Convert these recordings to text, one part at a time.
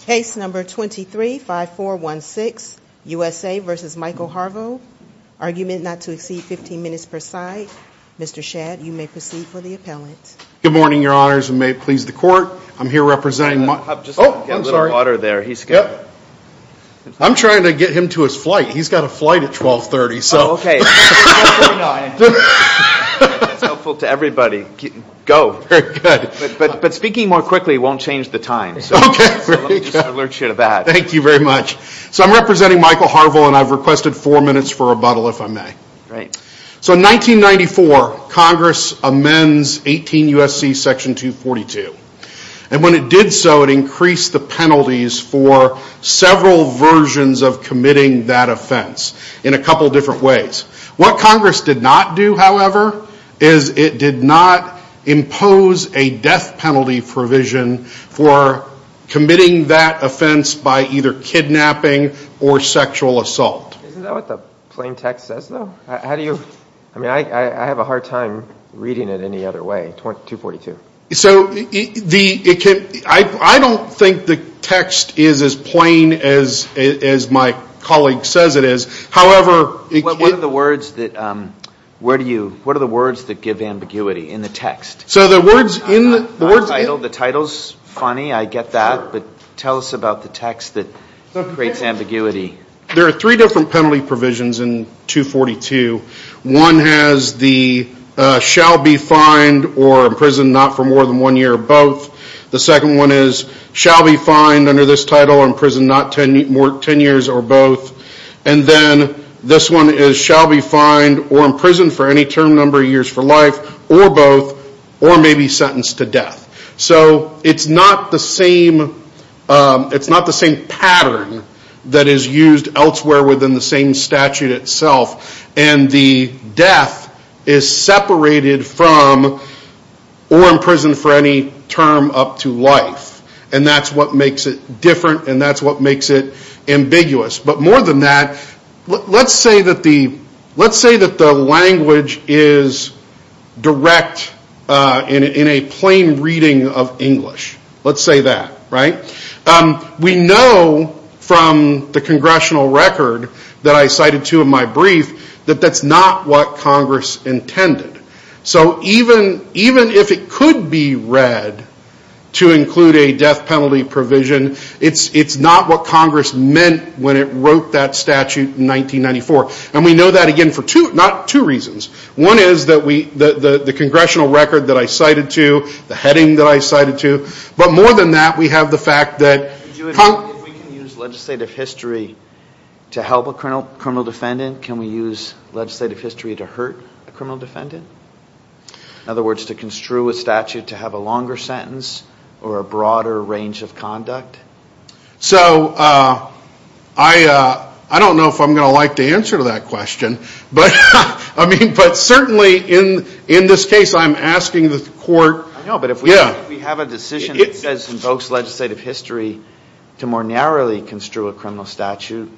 Case number 23 5 4 1 6 USA vs. Michael Harvel Argument not to exceed 15 minutes per side. Mr. Shad you may proceed for the appellant. Good morning Your honors and may it please the court. I'm here representing. Oh, I'm sorry water there. He's good I'm trying to get him to his flight. He's got a flight at 1230. So, okay Everybody go good, but but speaking more quickly won't change the time Thank you very much So I'm representing Michael Harvel and I've requested four minutes for rebuttal if I may right so in 1994 Congress amends 18 USC section 242 and when it did so it increased the penalties for Several versions of committing that offense in a couple different ways what Congress did not do however is It did not impose a death penalty provision for Committing that offense by either kidnapping or sexual assault How do you I mean I I have a hard time reading it any other way 242 so the it can't I don't think the text is as plain as As my colleague says it is however What are the words that? Where do you what are the words that give ambiguity in the text so the words in the words? I know the title's funny. I get that but tell us about the text that Creates ambiguity there are three different penalty provisions in 242 one has the Shall be fined or imprisoned not for more than one year both the second one is shall be fined under this title or imprisoned not ten more ten years or both and Then this one is shall be fined or imprisoned for any term number of years for life or both Or may be sentenced to death, so it's not the same It's not the same pattern that is used elsewhere within the same statute itself and the death is separated from Or imprisoned for any term up to life, and that's what makes it different, and that's what makes it ambiguous But more than that Let's say that the let's say that the language is Direct in in a plain reading of English. Let's say that right We know From the congressional record that I cited to in my brief that that's not what Congress intended So even even if it could be read To include a death penalty provision. It's it's not what Congress meant when it wrote that statute in 1994 and we know that again for two not two reasons one is that we the the congressional record that I cited to The heading that I cited to but more than that we have the fact that Legislative history To help a criminal criminal defendant can we use legislative history to hurt a criminal defendant? In other words to construe a statute to have a longer sentence or a broader range of conduct so I I don't know if I'm gonna like the answer to that question, but I mean but certainly in in this case I'm asking the court no, but if we have a decision it says invokes legislative history To more narrowly construe a criminal statute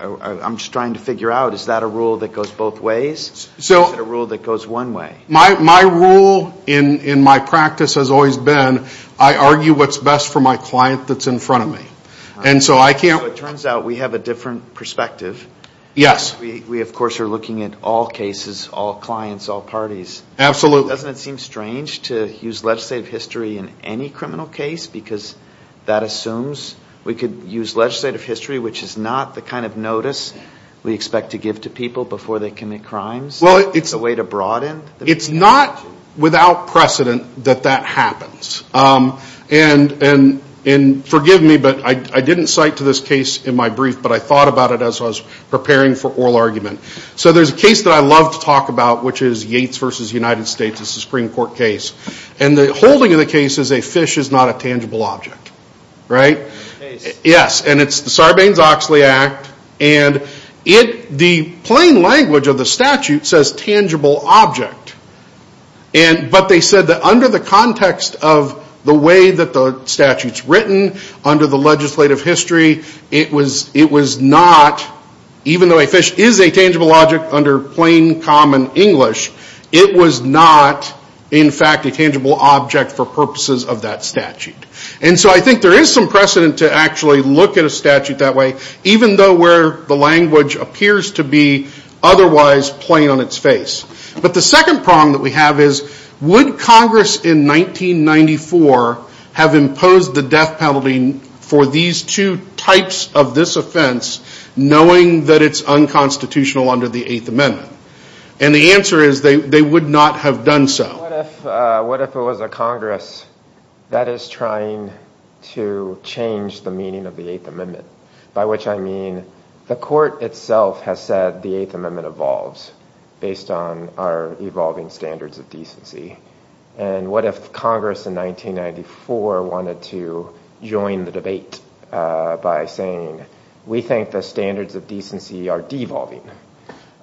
I'm just trying to figure out is that a rule that goes both ways So the rule that goes one way my my rule in in my practice has always been I argue What's best for my client that's in front of me? And so I can't it turns out we have a different perspective Yes, we of course are looking at all cases all clients all parties Absolutely doesn't it seem strange to use legislative history in any criminal case because that assumes We could use legislative history, which is not the kind of notice we expect to give to people before they commit crimes Well, it's a way to broaden. It's not without precedent that that happens And and in forgive me, but I didn't cite to this case in my brief But I thought about it as I was preparing for oral argument So there's a case that I love to talk about which is Yates versus United States It's a Supreme Court case and the holding of the case is a fish is not a tangible object right yes, and it's the Sarbanes-Oxley Act and it the plain language of the statute says tangible object and But they said that under the context of the way that the statutes written under the legislative history It was it was not Even though a fish is a tangible object under plain common English It was not in fact a tangible object for purposes of that statute And so I think there is some precedent to actually look at a statute that way even though where the language appears to be Otherwise plain on its face, but the second prong that we have is would Congress in 1994 have imposed the death penalty for these two types of this offense Knowing that it's unconstitutional under the Eighth Amendment and the answer is they they would not have done. So What if it was a Congress? That is trying to Change the meaning of the Eighth Amendment by which I mean the court itself has said the Eighth Amendment evolves based on our evolving standards of decency and what if Congress in 1994 wanted to join the debate By saying we think the standards of decency are devolving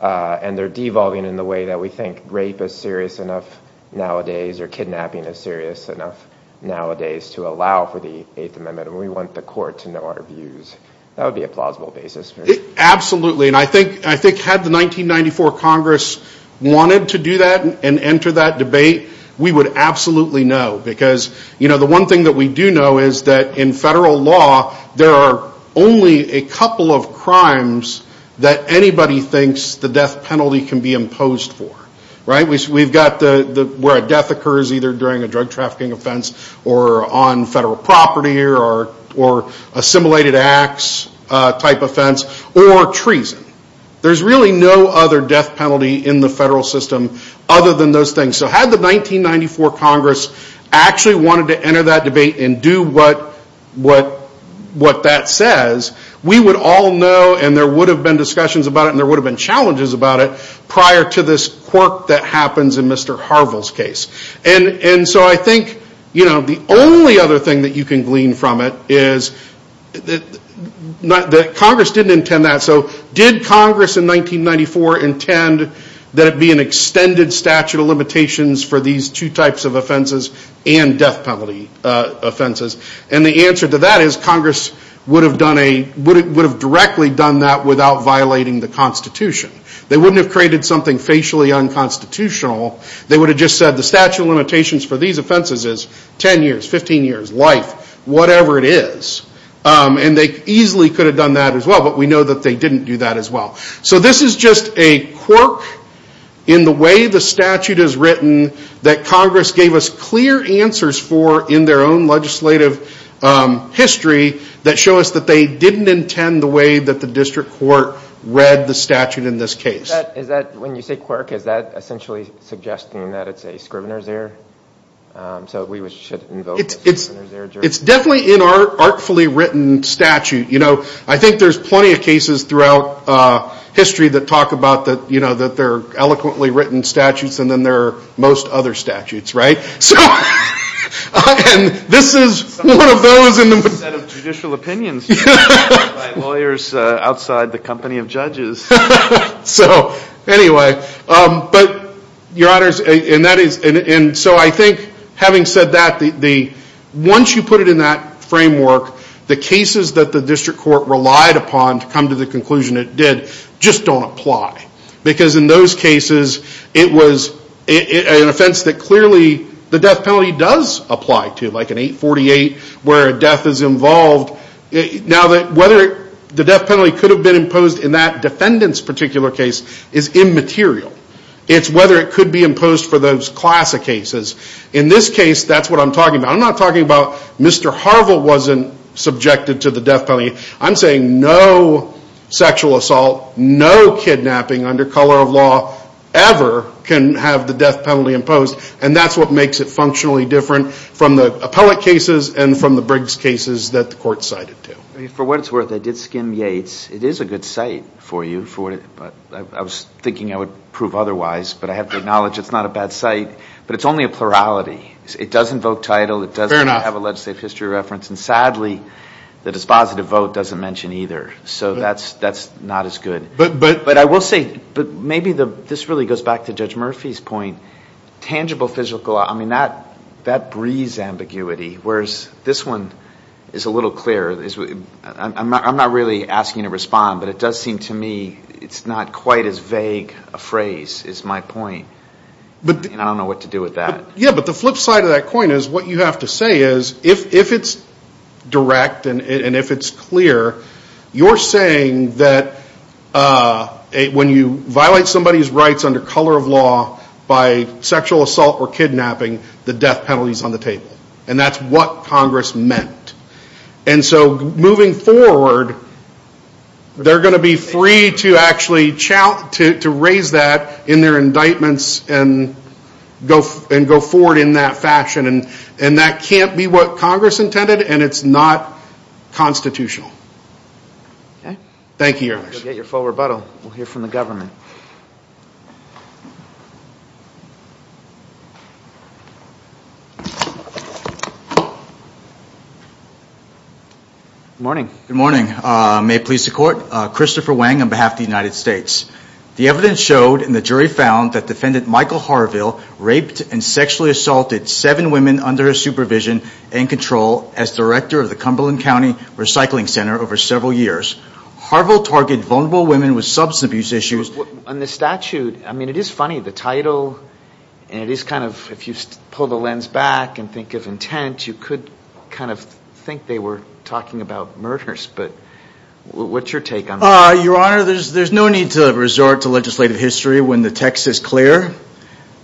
And they're devolving in the way that we think rape is serious enough nowadays or kidnapping is serious enough Nowadays to allow for the Eighth Amendment and we want the court to know our views. That would be a plausible basis Absolutely, and I think I think had the 1994 Congress Wanted to do that and enter that debate We would absolutely know because you know, the one thing that we do know is that in federal law There are only a couple of crimes that anybody thinks the death penalty can be imposed for right? we've got the where a death occurs either during a drug trafficking offense or on federal property or or assimilated acts Type offense or treason. There's really no other death penalty in the federal system other than those things So had the 1994 Congress actually wanted to enter that debate and do what? What what that says we would all know and there would have been discussions about it And there would have been challenges about it prior to this quirk that happens in Mr Harville's case and and so I think you know, the only other thing that you can glean from it is Not that Congress didn't intend that so did Congress in 1994 intend that it be an extended statute of limitations For these two types of offenses and death penalty Offenses and the answer to that is Congress would have done a would it would have directly done that without violating the Constitution They wouldn't have created something facially Unconstitutional they would have just said the statute of limitations for these offenses is 10 years 15 years life, whatever it is And they easily could have done that as well, but we know that they didn't do that as well So this is just a quirk in the way The statute is written that Congress gave us clear answers for in their own legislative History that show us that they didn't intend the way that the district court read the statute in this case Is that when you say quirk, is that essentially suggesting that it's a Scrivener's error? So we should It's definitely in our artfully written statute, you know, I think there's plenty of cases throughout History that talk about that, you know that they're eloquently written statutes and then there are most other statutes, right? This is Lawyers outside the company of judges so anyway but your honors and that is and so I think having said that the Once you put it in that framework The cases that the district court relied upon to come to the conclusion it did just don't apply because in those cases it was An offense that clearly the death penalty does apply to like an 848 where a death is involved Now that whether the death penalty could have been imposed in that defendants particular case is immaterial It's whether it could be imposed for those classic cases in this case. That's what I'm talking about. I'm not talking about. Mr Harville wasn't subjected to the death penalty. I'm saying no sexual assault no kidnapping under color of law ever Can have the death penalty imposed and that's what makes it functionally different from the appellate cases and from the Briggs cases that the court Cited to for what it's worth. I did skim Yates It is a good site for you for it, but I was thinking I would prove otherwise, but I have to acknowledge It's not a bad site, but it's only a plurality. It doesn't vote title It doesn't have a legislative history reference and sadly the dispositive vote doesn't mention either So that's that's not as good. But but but I will say but maybe the this really goes back to judge Murphy's point Tangible physical. I mean that that breeze ambiguity. Whereas this one is a little clear I'm not really asking to respond but it does seem to me. It's not quite as vague a phrase. It's my point But I don't know what to do with that yeah, but the flip side of that coin is what you have to say is if it's Direct and if it's clear you're saying that when you violate somebody's rights under color of law by Sexual assault or kidnapping the death penalties on the table and that's what Congress meant. And so moving forward They're going to be free to actually chow to raise that in their indictments and Go and go forward in that fashion and and that can't be what Congress intended and it's not constitutional Okay. Thank you. Get your full rebuttal. We'll hear from the government Good Morning good morning May police the court Christopher Wang on behalf of the United States the evidence showed in the jury found that defendant Michael Harville raped and sexually assaulted seven women under his supervision and Control as director of the Cumberland County Recycling Center over several years Harville target vulnerable women with substance abuse issues on the statute. I mean it is funny the title And it is kind of if you pull the lens back and think of intent you could kind of think they were talking about murders, but What's your take on your honor? There's there's no need to resort to legislative history when the text is clear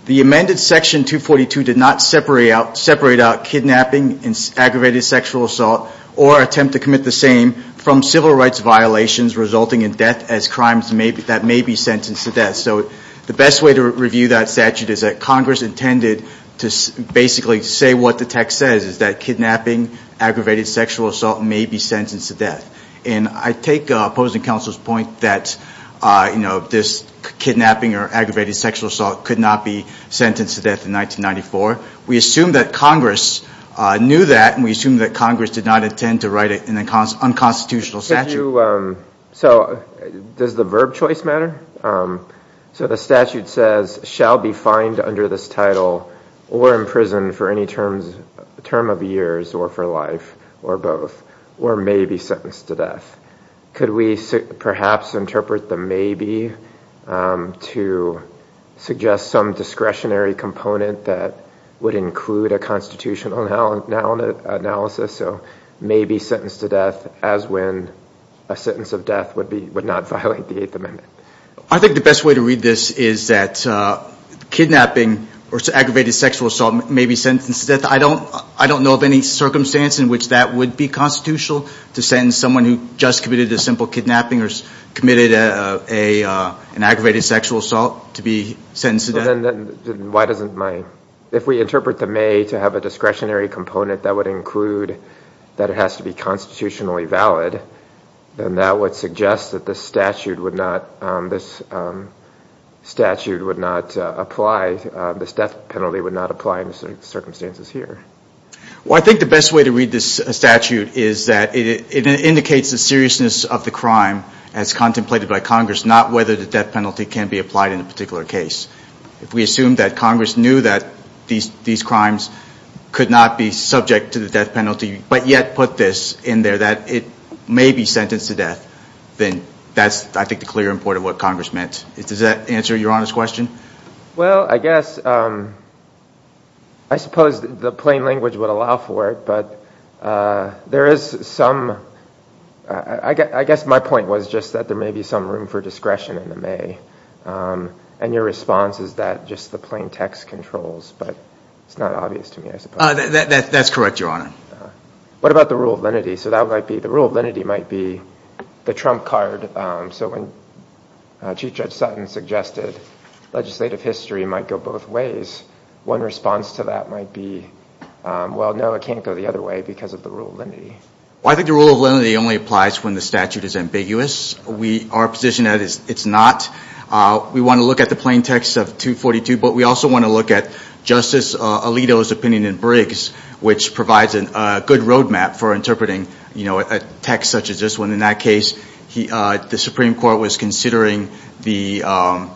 the amended section 242 did not separate out separate out kidnapping and Aggravated sexual assault or attempt to commit the same from civil rights violations resulting in death as crimes Maybe that may be sentenced to death So the best way to review that statute is that Congress intended to basically say what the text says is that kidnapping? aggravated sexual assault may be sentenced to death and I take opposing counsel's point that You know this kidnapping or aggravated sexual assault could not be sentenced to death in 1994. We assume that Congress Knew that and we assume that Congress did not intend to write it in the cons unconstitutional statute So does the verb choice matter So the statute says shall be fined under this title or in prison for any terms Term of years or for life or both or may be sentenced to death Could we perhaps interpret the maybe? to Suggest some discretionary component that would include a constitutional now and now in an analysis So maybe sentenced to death as when? A sentence of death would be would not violate the Eighth Amendment. I think the best way to read. This is that Kidnapping or aggravated sexual assault may be sentenced that I don't I don't know of any circumstance in which that would be constitutional to send someone who just committed a simple kidnapping or committed a aggravated sexual assault to be Why doesn't my if we interpret the may to have a discretionary component that would include that it has to be constitutionally valid Then that would suggest that this statute would not this Statute would not apply this death penalty would not apply in certain circumstances here Well, I think the best way to read this statute is that it indicates the seriousness of the crime as contemplated by Congress Not whether the death penalty can be applied in a particular case if we assume that Congress knew that these these crimes Could not be subject to the death penalty but yet put this in there that it may be sentenced to death Then that's I think the clear important what Congress meant. It does that answer your honest question? well, I guess I suppose the plain language would allow for it, but There is some I Guess my point was just that there may be some room for discretion in the May And your response is that just the plain text controls, but it's not obvious to me. I suppose that's correct your honor What about the rule of lenity? So that might be the rule of lenity might be the trump card. So when Chief Judge Sutton suggested Legislative history might go both ways one response to that might be Well, no, it can't go the other way because of the rule of lenity Well, I think the rule of lenity only applies when the statute is ambiguous. We are position that is it's not We want to look at the plain text of 242 But we also want to look at Justice Alito's opinion in Briggs which provides a good roadmap for interpreting You know a text such as this one in that case. He the Supreme Court was considering the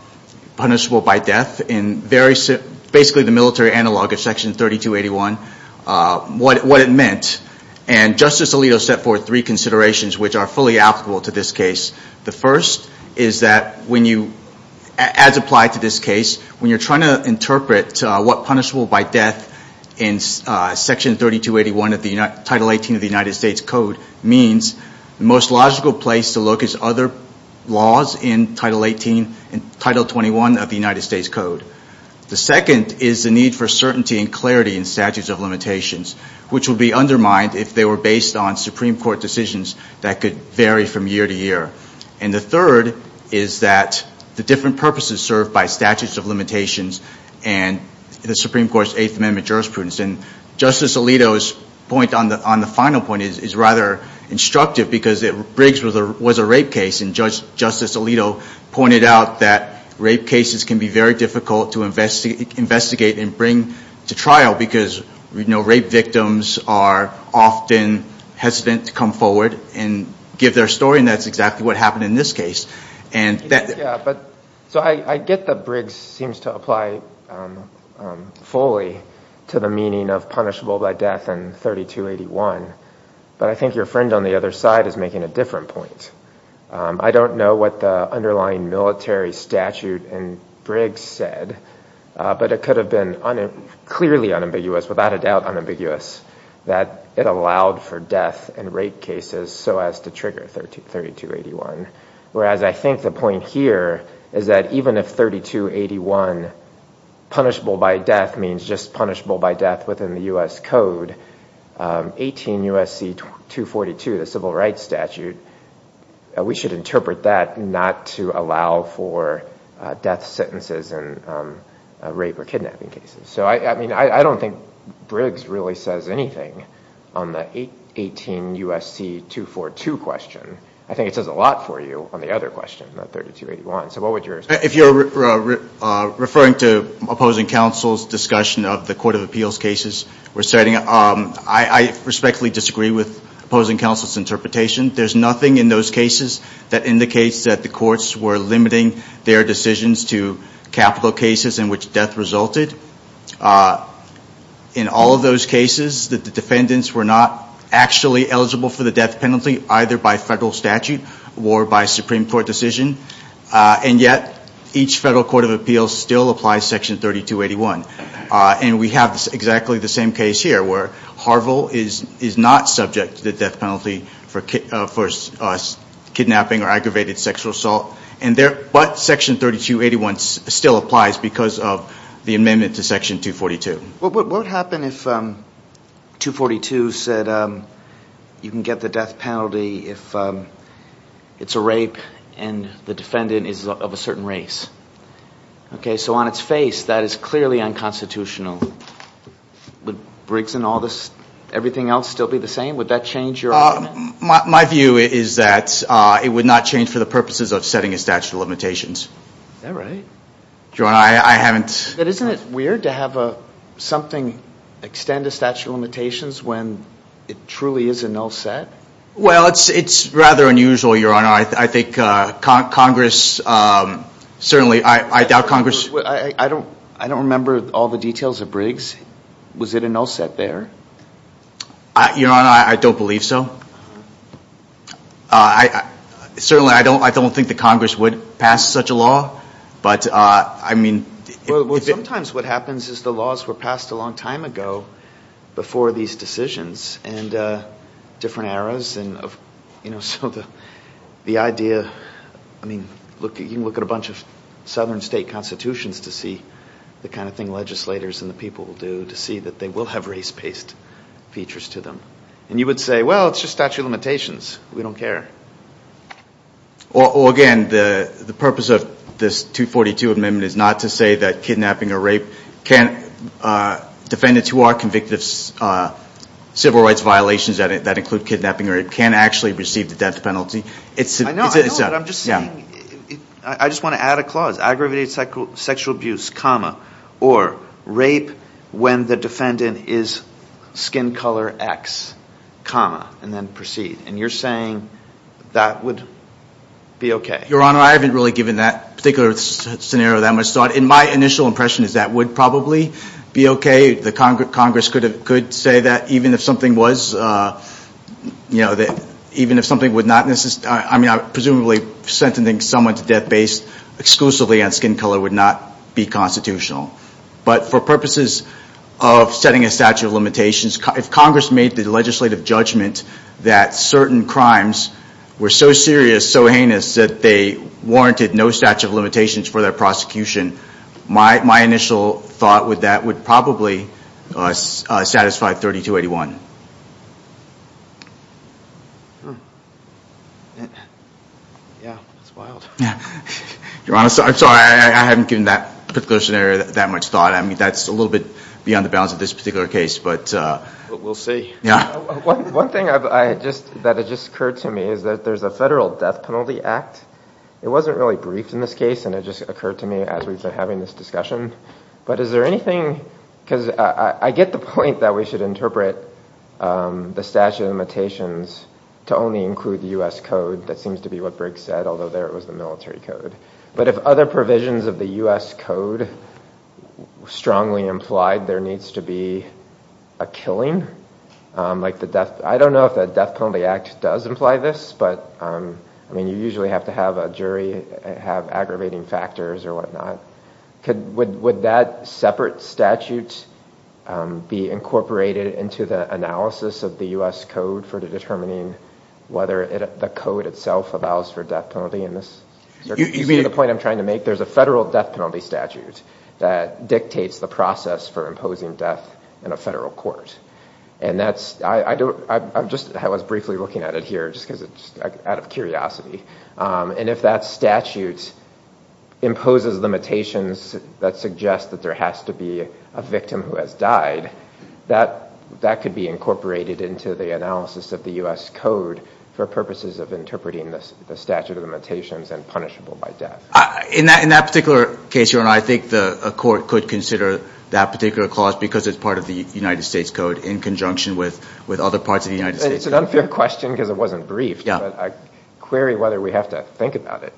Punishable by death in various basically the military analog of section 3281 What what it meant and Justice Alito set forth three considerations which are fully applicable to this case the first is that when you as applied to this case when you're trying to interpret what punishable by death in section 3281 of the United States Code means the most logical place to look is other Laws in title 18 and title 21 of the United States Code The second is the need for certainty and clarity in statutes of limitations Which will be undermined if they were based on Supreme Court decisions that could vary from year to year and the third is that the different purposes served by statutes of limitations and the Supreme Court's Eighth Amendment jurisprudence and Justice Alito's point on the on the final point is rather Instructive because it Briggs was a rape case and Judge Justice Alito pointed out that rape cases can be very difficult to investigate and bring to trial because we know rape victims are Often hesitant to come forward and give their story and that's exactly what happened in this case and that So I I get the Briggs seems to apply Fully to the meaning of punishable by death and 3281 But I think your friend on the other side is making a different point I don't know what the underlying military statute and Briggs said But it could have been on it clearly unambiguous without a doubt unambiguous That it allowed for death and rape cases so as to trigger 13 3281 Whereas I think the point here is that even if 3281 Punishable by death means just punishable by death within the US Code 18 USC 242 the civil rights statute We should interpret that not to allow for Death sentences and Rape or kidnapping cases. So I mean, I don't think Briggs really says anything on the 818 USC 242 question. I think it says a lot for you on the other question about 3281. So what would yours if you're referring to opposing counsel's discussion of the Court of Appeals cases we're setting up I Respectfully disagree with opposing counsel's interpretation There's nothing in those cases that indicates that the courts were limiting their decisions to capital cases in which death resulted In all of those cases that the defendants were not Actually eligible for the death penalty either by federal statute or by Supreme Court decision And yet each federal Court of Appeals still applies section 3281 And we have exactly the same case here where Harvill is is not subject to the death penalty for Kidnapping or aggravated sexual assault and there but section 3281 still applies because of the amendment to section 242 what would happen if 242 said you can get the death penalty if It's a rape and the defendant is of a certain race Okay, so on its face that is clearly unconstitutional But Briggs and all this everything else still be the same would that change your My view is that it would not change for the purposes of setting a statute of limitations All right, John. I I haven't that isn't it weird to have a Something extend a statute of limitations when it truly is a null set. Well, it's it's rather unusual your honor I think Congress Certainly, I doubt Congress. I don't I don't remember all the details of Briggs. Was it a null set there? I Your honor. I don't believe so. I Certainly, I don't I don't think the Congress would pass such a law but I mean sometimes what happens is the laws were passed a long time ago before these decisions and Different eras and you know, so the the idea I mean look you can look at a bunch of southern state constitutions to see The kind of thing legislators and the people will do to see that they will have race-based Features to them and you would say well, it's just statute of limitations. We don't care Or again, the the purpose of this 242 amendment is not to say that kidnapping or rape can't defendants who are convicted Civil rights violations at it that include kidnapping or it can't actually receive the death penalty. It's Yeah, I just want to add a clause aggravated cycle sexual abuse comma or rape when the defendant is skin color X Comma and then proceed and you're saying that would Be okay, your honor. I haven't really given that particular Scenario that much thought in my initial impression is that would probably be okay The Congress could have could say that even if something was You know that even if something would not necessarily I mean, I presumably sentencing someone to death based exclusively on skin color would not be constitutional but for purposes of Setting a statute of limitations if Congress made the legislative judgment that certain crimes were so serious So heinous that they warranted no statute of limitations for their prosecution My initial thought with that would probably Satisfy 3281 Your honor, sorry, I haven't given that particular scenario that much thought I mean, that's a little bit beyond the bounds of this particular case, but we'll see. Yeah One thing I just that it just occurred to me is that there's a federal death penalty act It wasn't really briefed in this case and it just occurred to me as we've been having this discussion But is there anything because I get the point that we should interpret The statute of limitations to only include the US Code that seems to be what Briggs said Although there it was the military code, but if other provisions of the US Code Strongly implied there needs to be a killing Like the death. I don't know if that death penalty act does imply this but I mean You usually have to have a jury have aggravating factors or whatnot. Could would would that separate statutes? Be incorporated into the analysis of the US Code for determining whether it the code itself allows for death penalty in this You mean the point I'm trying to make there's a federal death penalty statute that dictates the process for imposing death in a federal court And that's I don't I'm just I was briefly looking at it here just because it's out of curiosity and if that statute Imposes limitations that suggest that there has to be a victim who has died that that could be incorporated into the analysis of the US Code for purposes of interpreting this the statute of limitations and punishable by death in that in that particular case you and I think the court could consider that particular clause because it's Part of the United States Code in conjunction with with other parts of the United States Question because it wasn't brief. Yeah, I query whether we have to think about it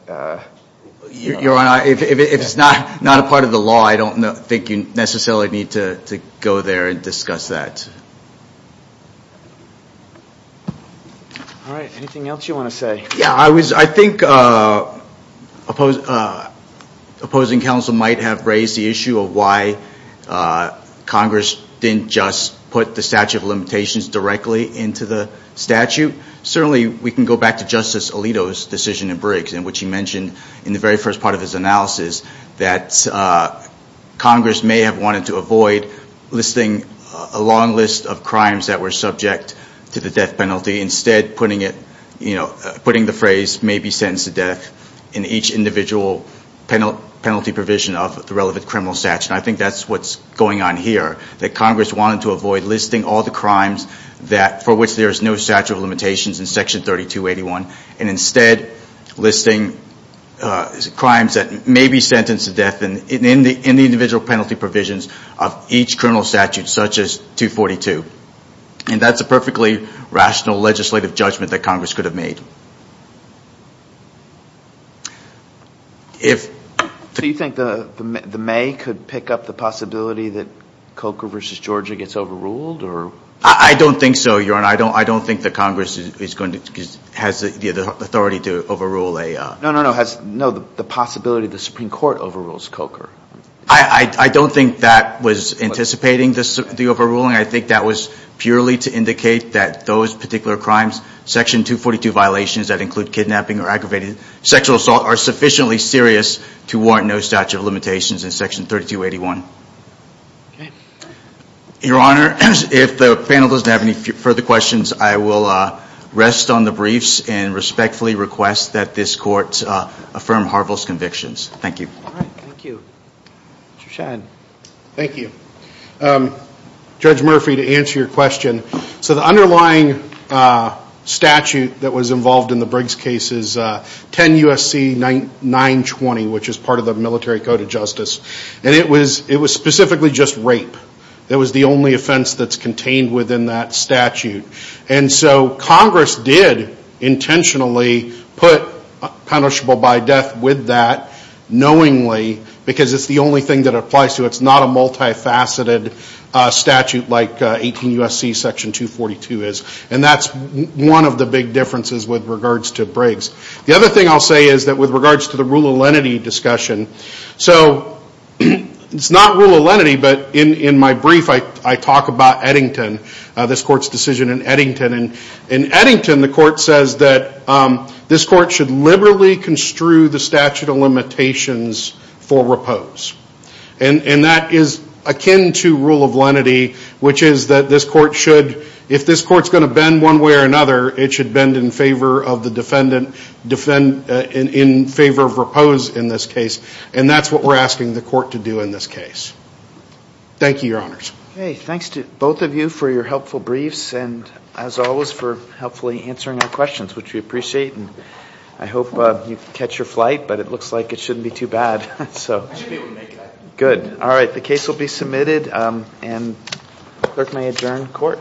Your honor if it's not not a part of the law. I don't know think you necessarily need to go there and discuss that All right anything else you want to say yeah, I was I think Opposed opposing counsel might have raised the issue of why Congress didn't just put the statute of limitations directly into the statute certainly we can go back to Justice Alito's decision in Briggs in which he mentioned in the very first part of his analysis that Congress may have wanted to avoid Listing a long list of crimes that were subject to the death penalty instead putting it You know putting the phrase may be sentenced to death in each individual Penal penalty provision of the relevant criminal statute I think that's what's going on here that Congress wanted to avoid listing all the crimes That for which there is no statute of limitations in section 32 81 and instead listing crimes that may be sentenced to death and in the in the individual penalty provisions of each criminal statute such as 242 and that's a perfectly rational legislative judgment that Congress could have made Do you think the the may could pick up the possibility that Coker versus, Georgia gets overruled or I don't think so you're and I don't I don't think the Congress is going to Has the authority to overrule a no no no has no the possibility the Supreme Court overrules Coker I I don't think that was anticipating this the overruling I think that was purely to indicate that those particular crimes Section 242 violations that include kidnapping or aggravated sexual assault are sufficiently serious to warrant no statute of limitations in section 32 81 Your honor if the panel doesn't have any further questions I will rest on the briefs and respectfully request that this court affirm Harville's convictions. Thank you Thank you Judge Murphy to answer your question so the underlying Statute that was involved in the Briggs case is 10 USC 920 which is part of the military code of justice, and it was it was specifically just rape That was the only offense that's contained within that statute and so Congress did intentionally put Punishable by death with that Knowingly because it's the only thing that applies to it's not a multi-faceted Statute like 18 USC section 242 is and that's one of the big differences with regards to Briggs The other thing I'll say is that with regards to the rule of lenity discussion, so It's not rule of lenity, but in in my brief I I talk about Eddington this court's decision in Eddington and in Eddington the court says that this court should liberally construe the statute of limitations for repose and And that is akin to rule of lenity Which is that this court should if this court's going to bend one way or another it should bend in favor of the defendant Defend in favor of repose in this case, and that's what we're asking the court to do in this case Thank you your honors. Hey Thanks to both of you for your helpful briefs and as always for helpfully answering our questions Which we appreciate and I hope you catch your flight, but it looks like it shouldn't be too bad so Good all right the case will be submitted and clerk may adjourn court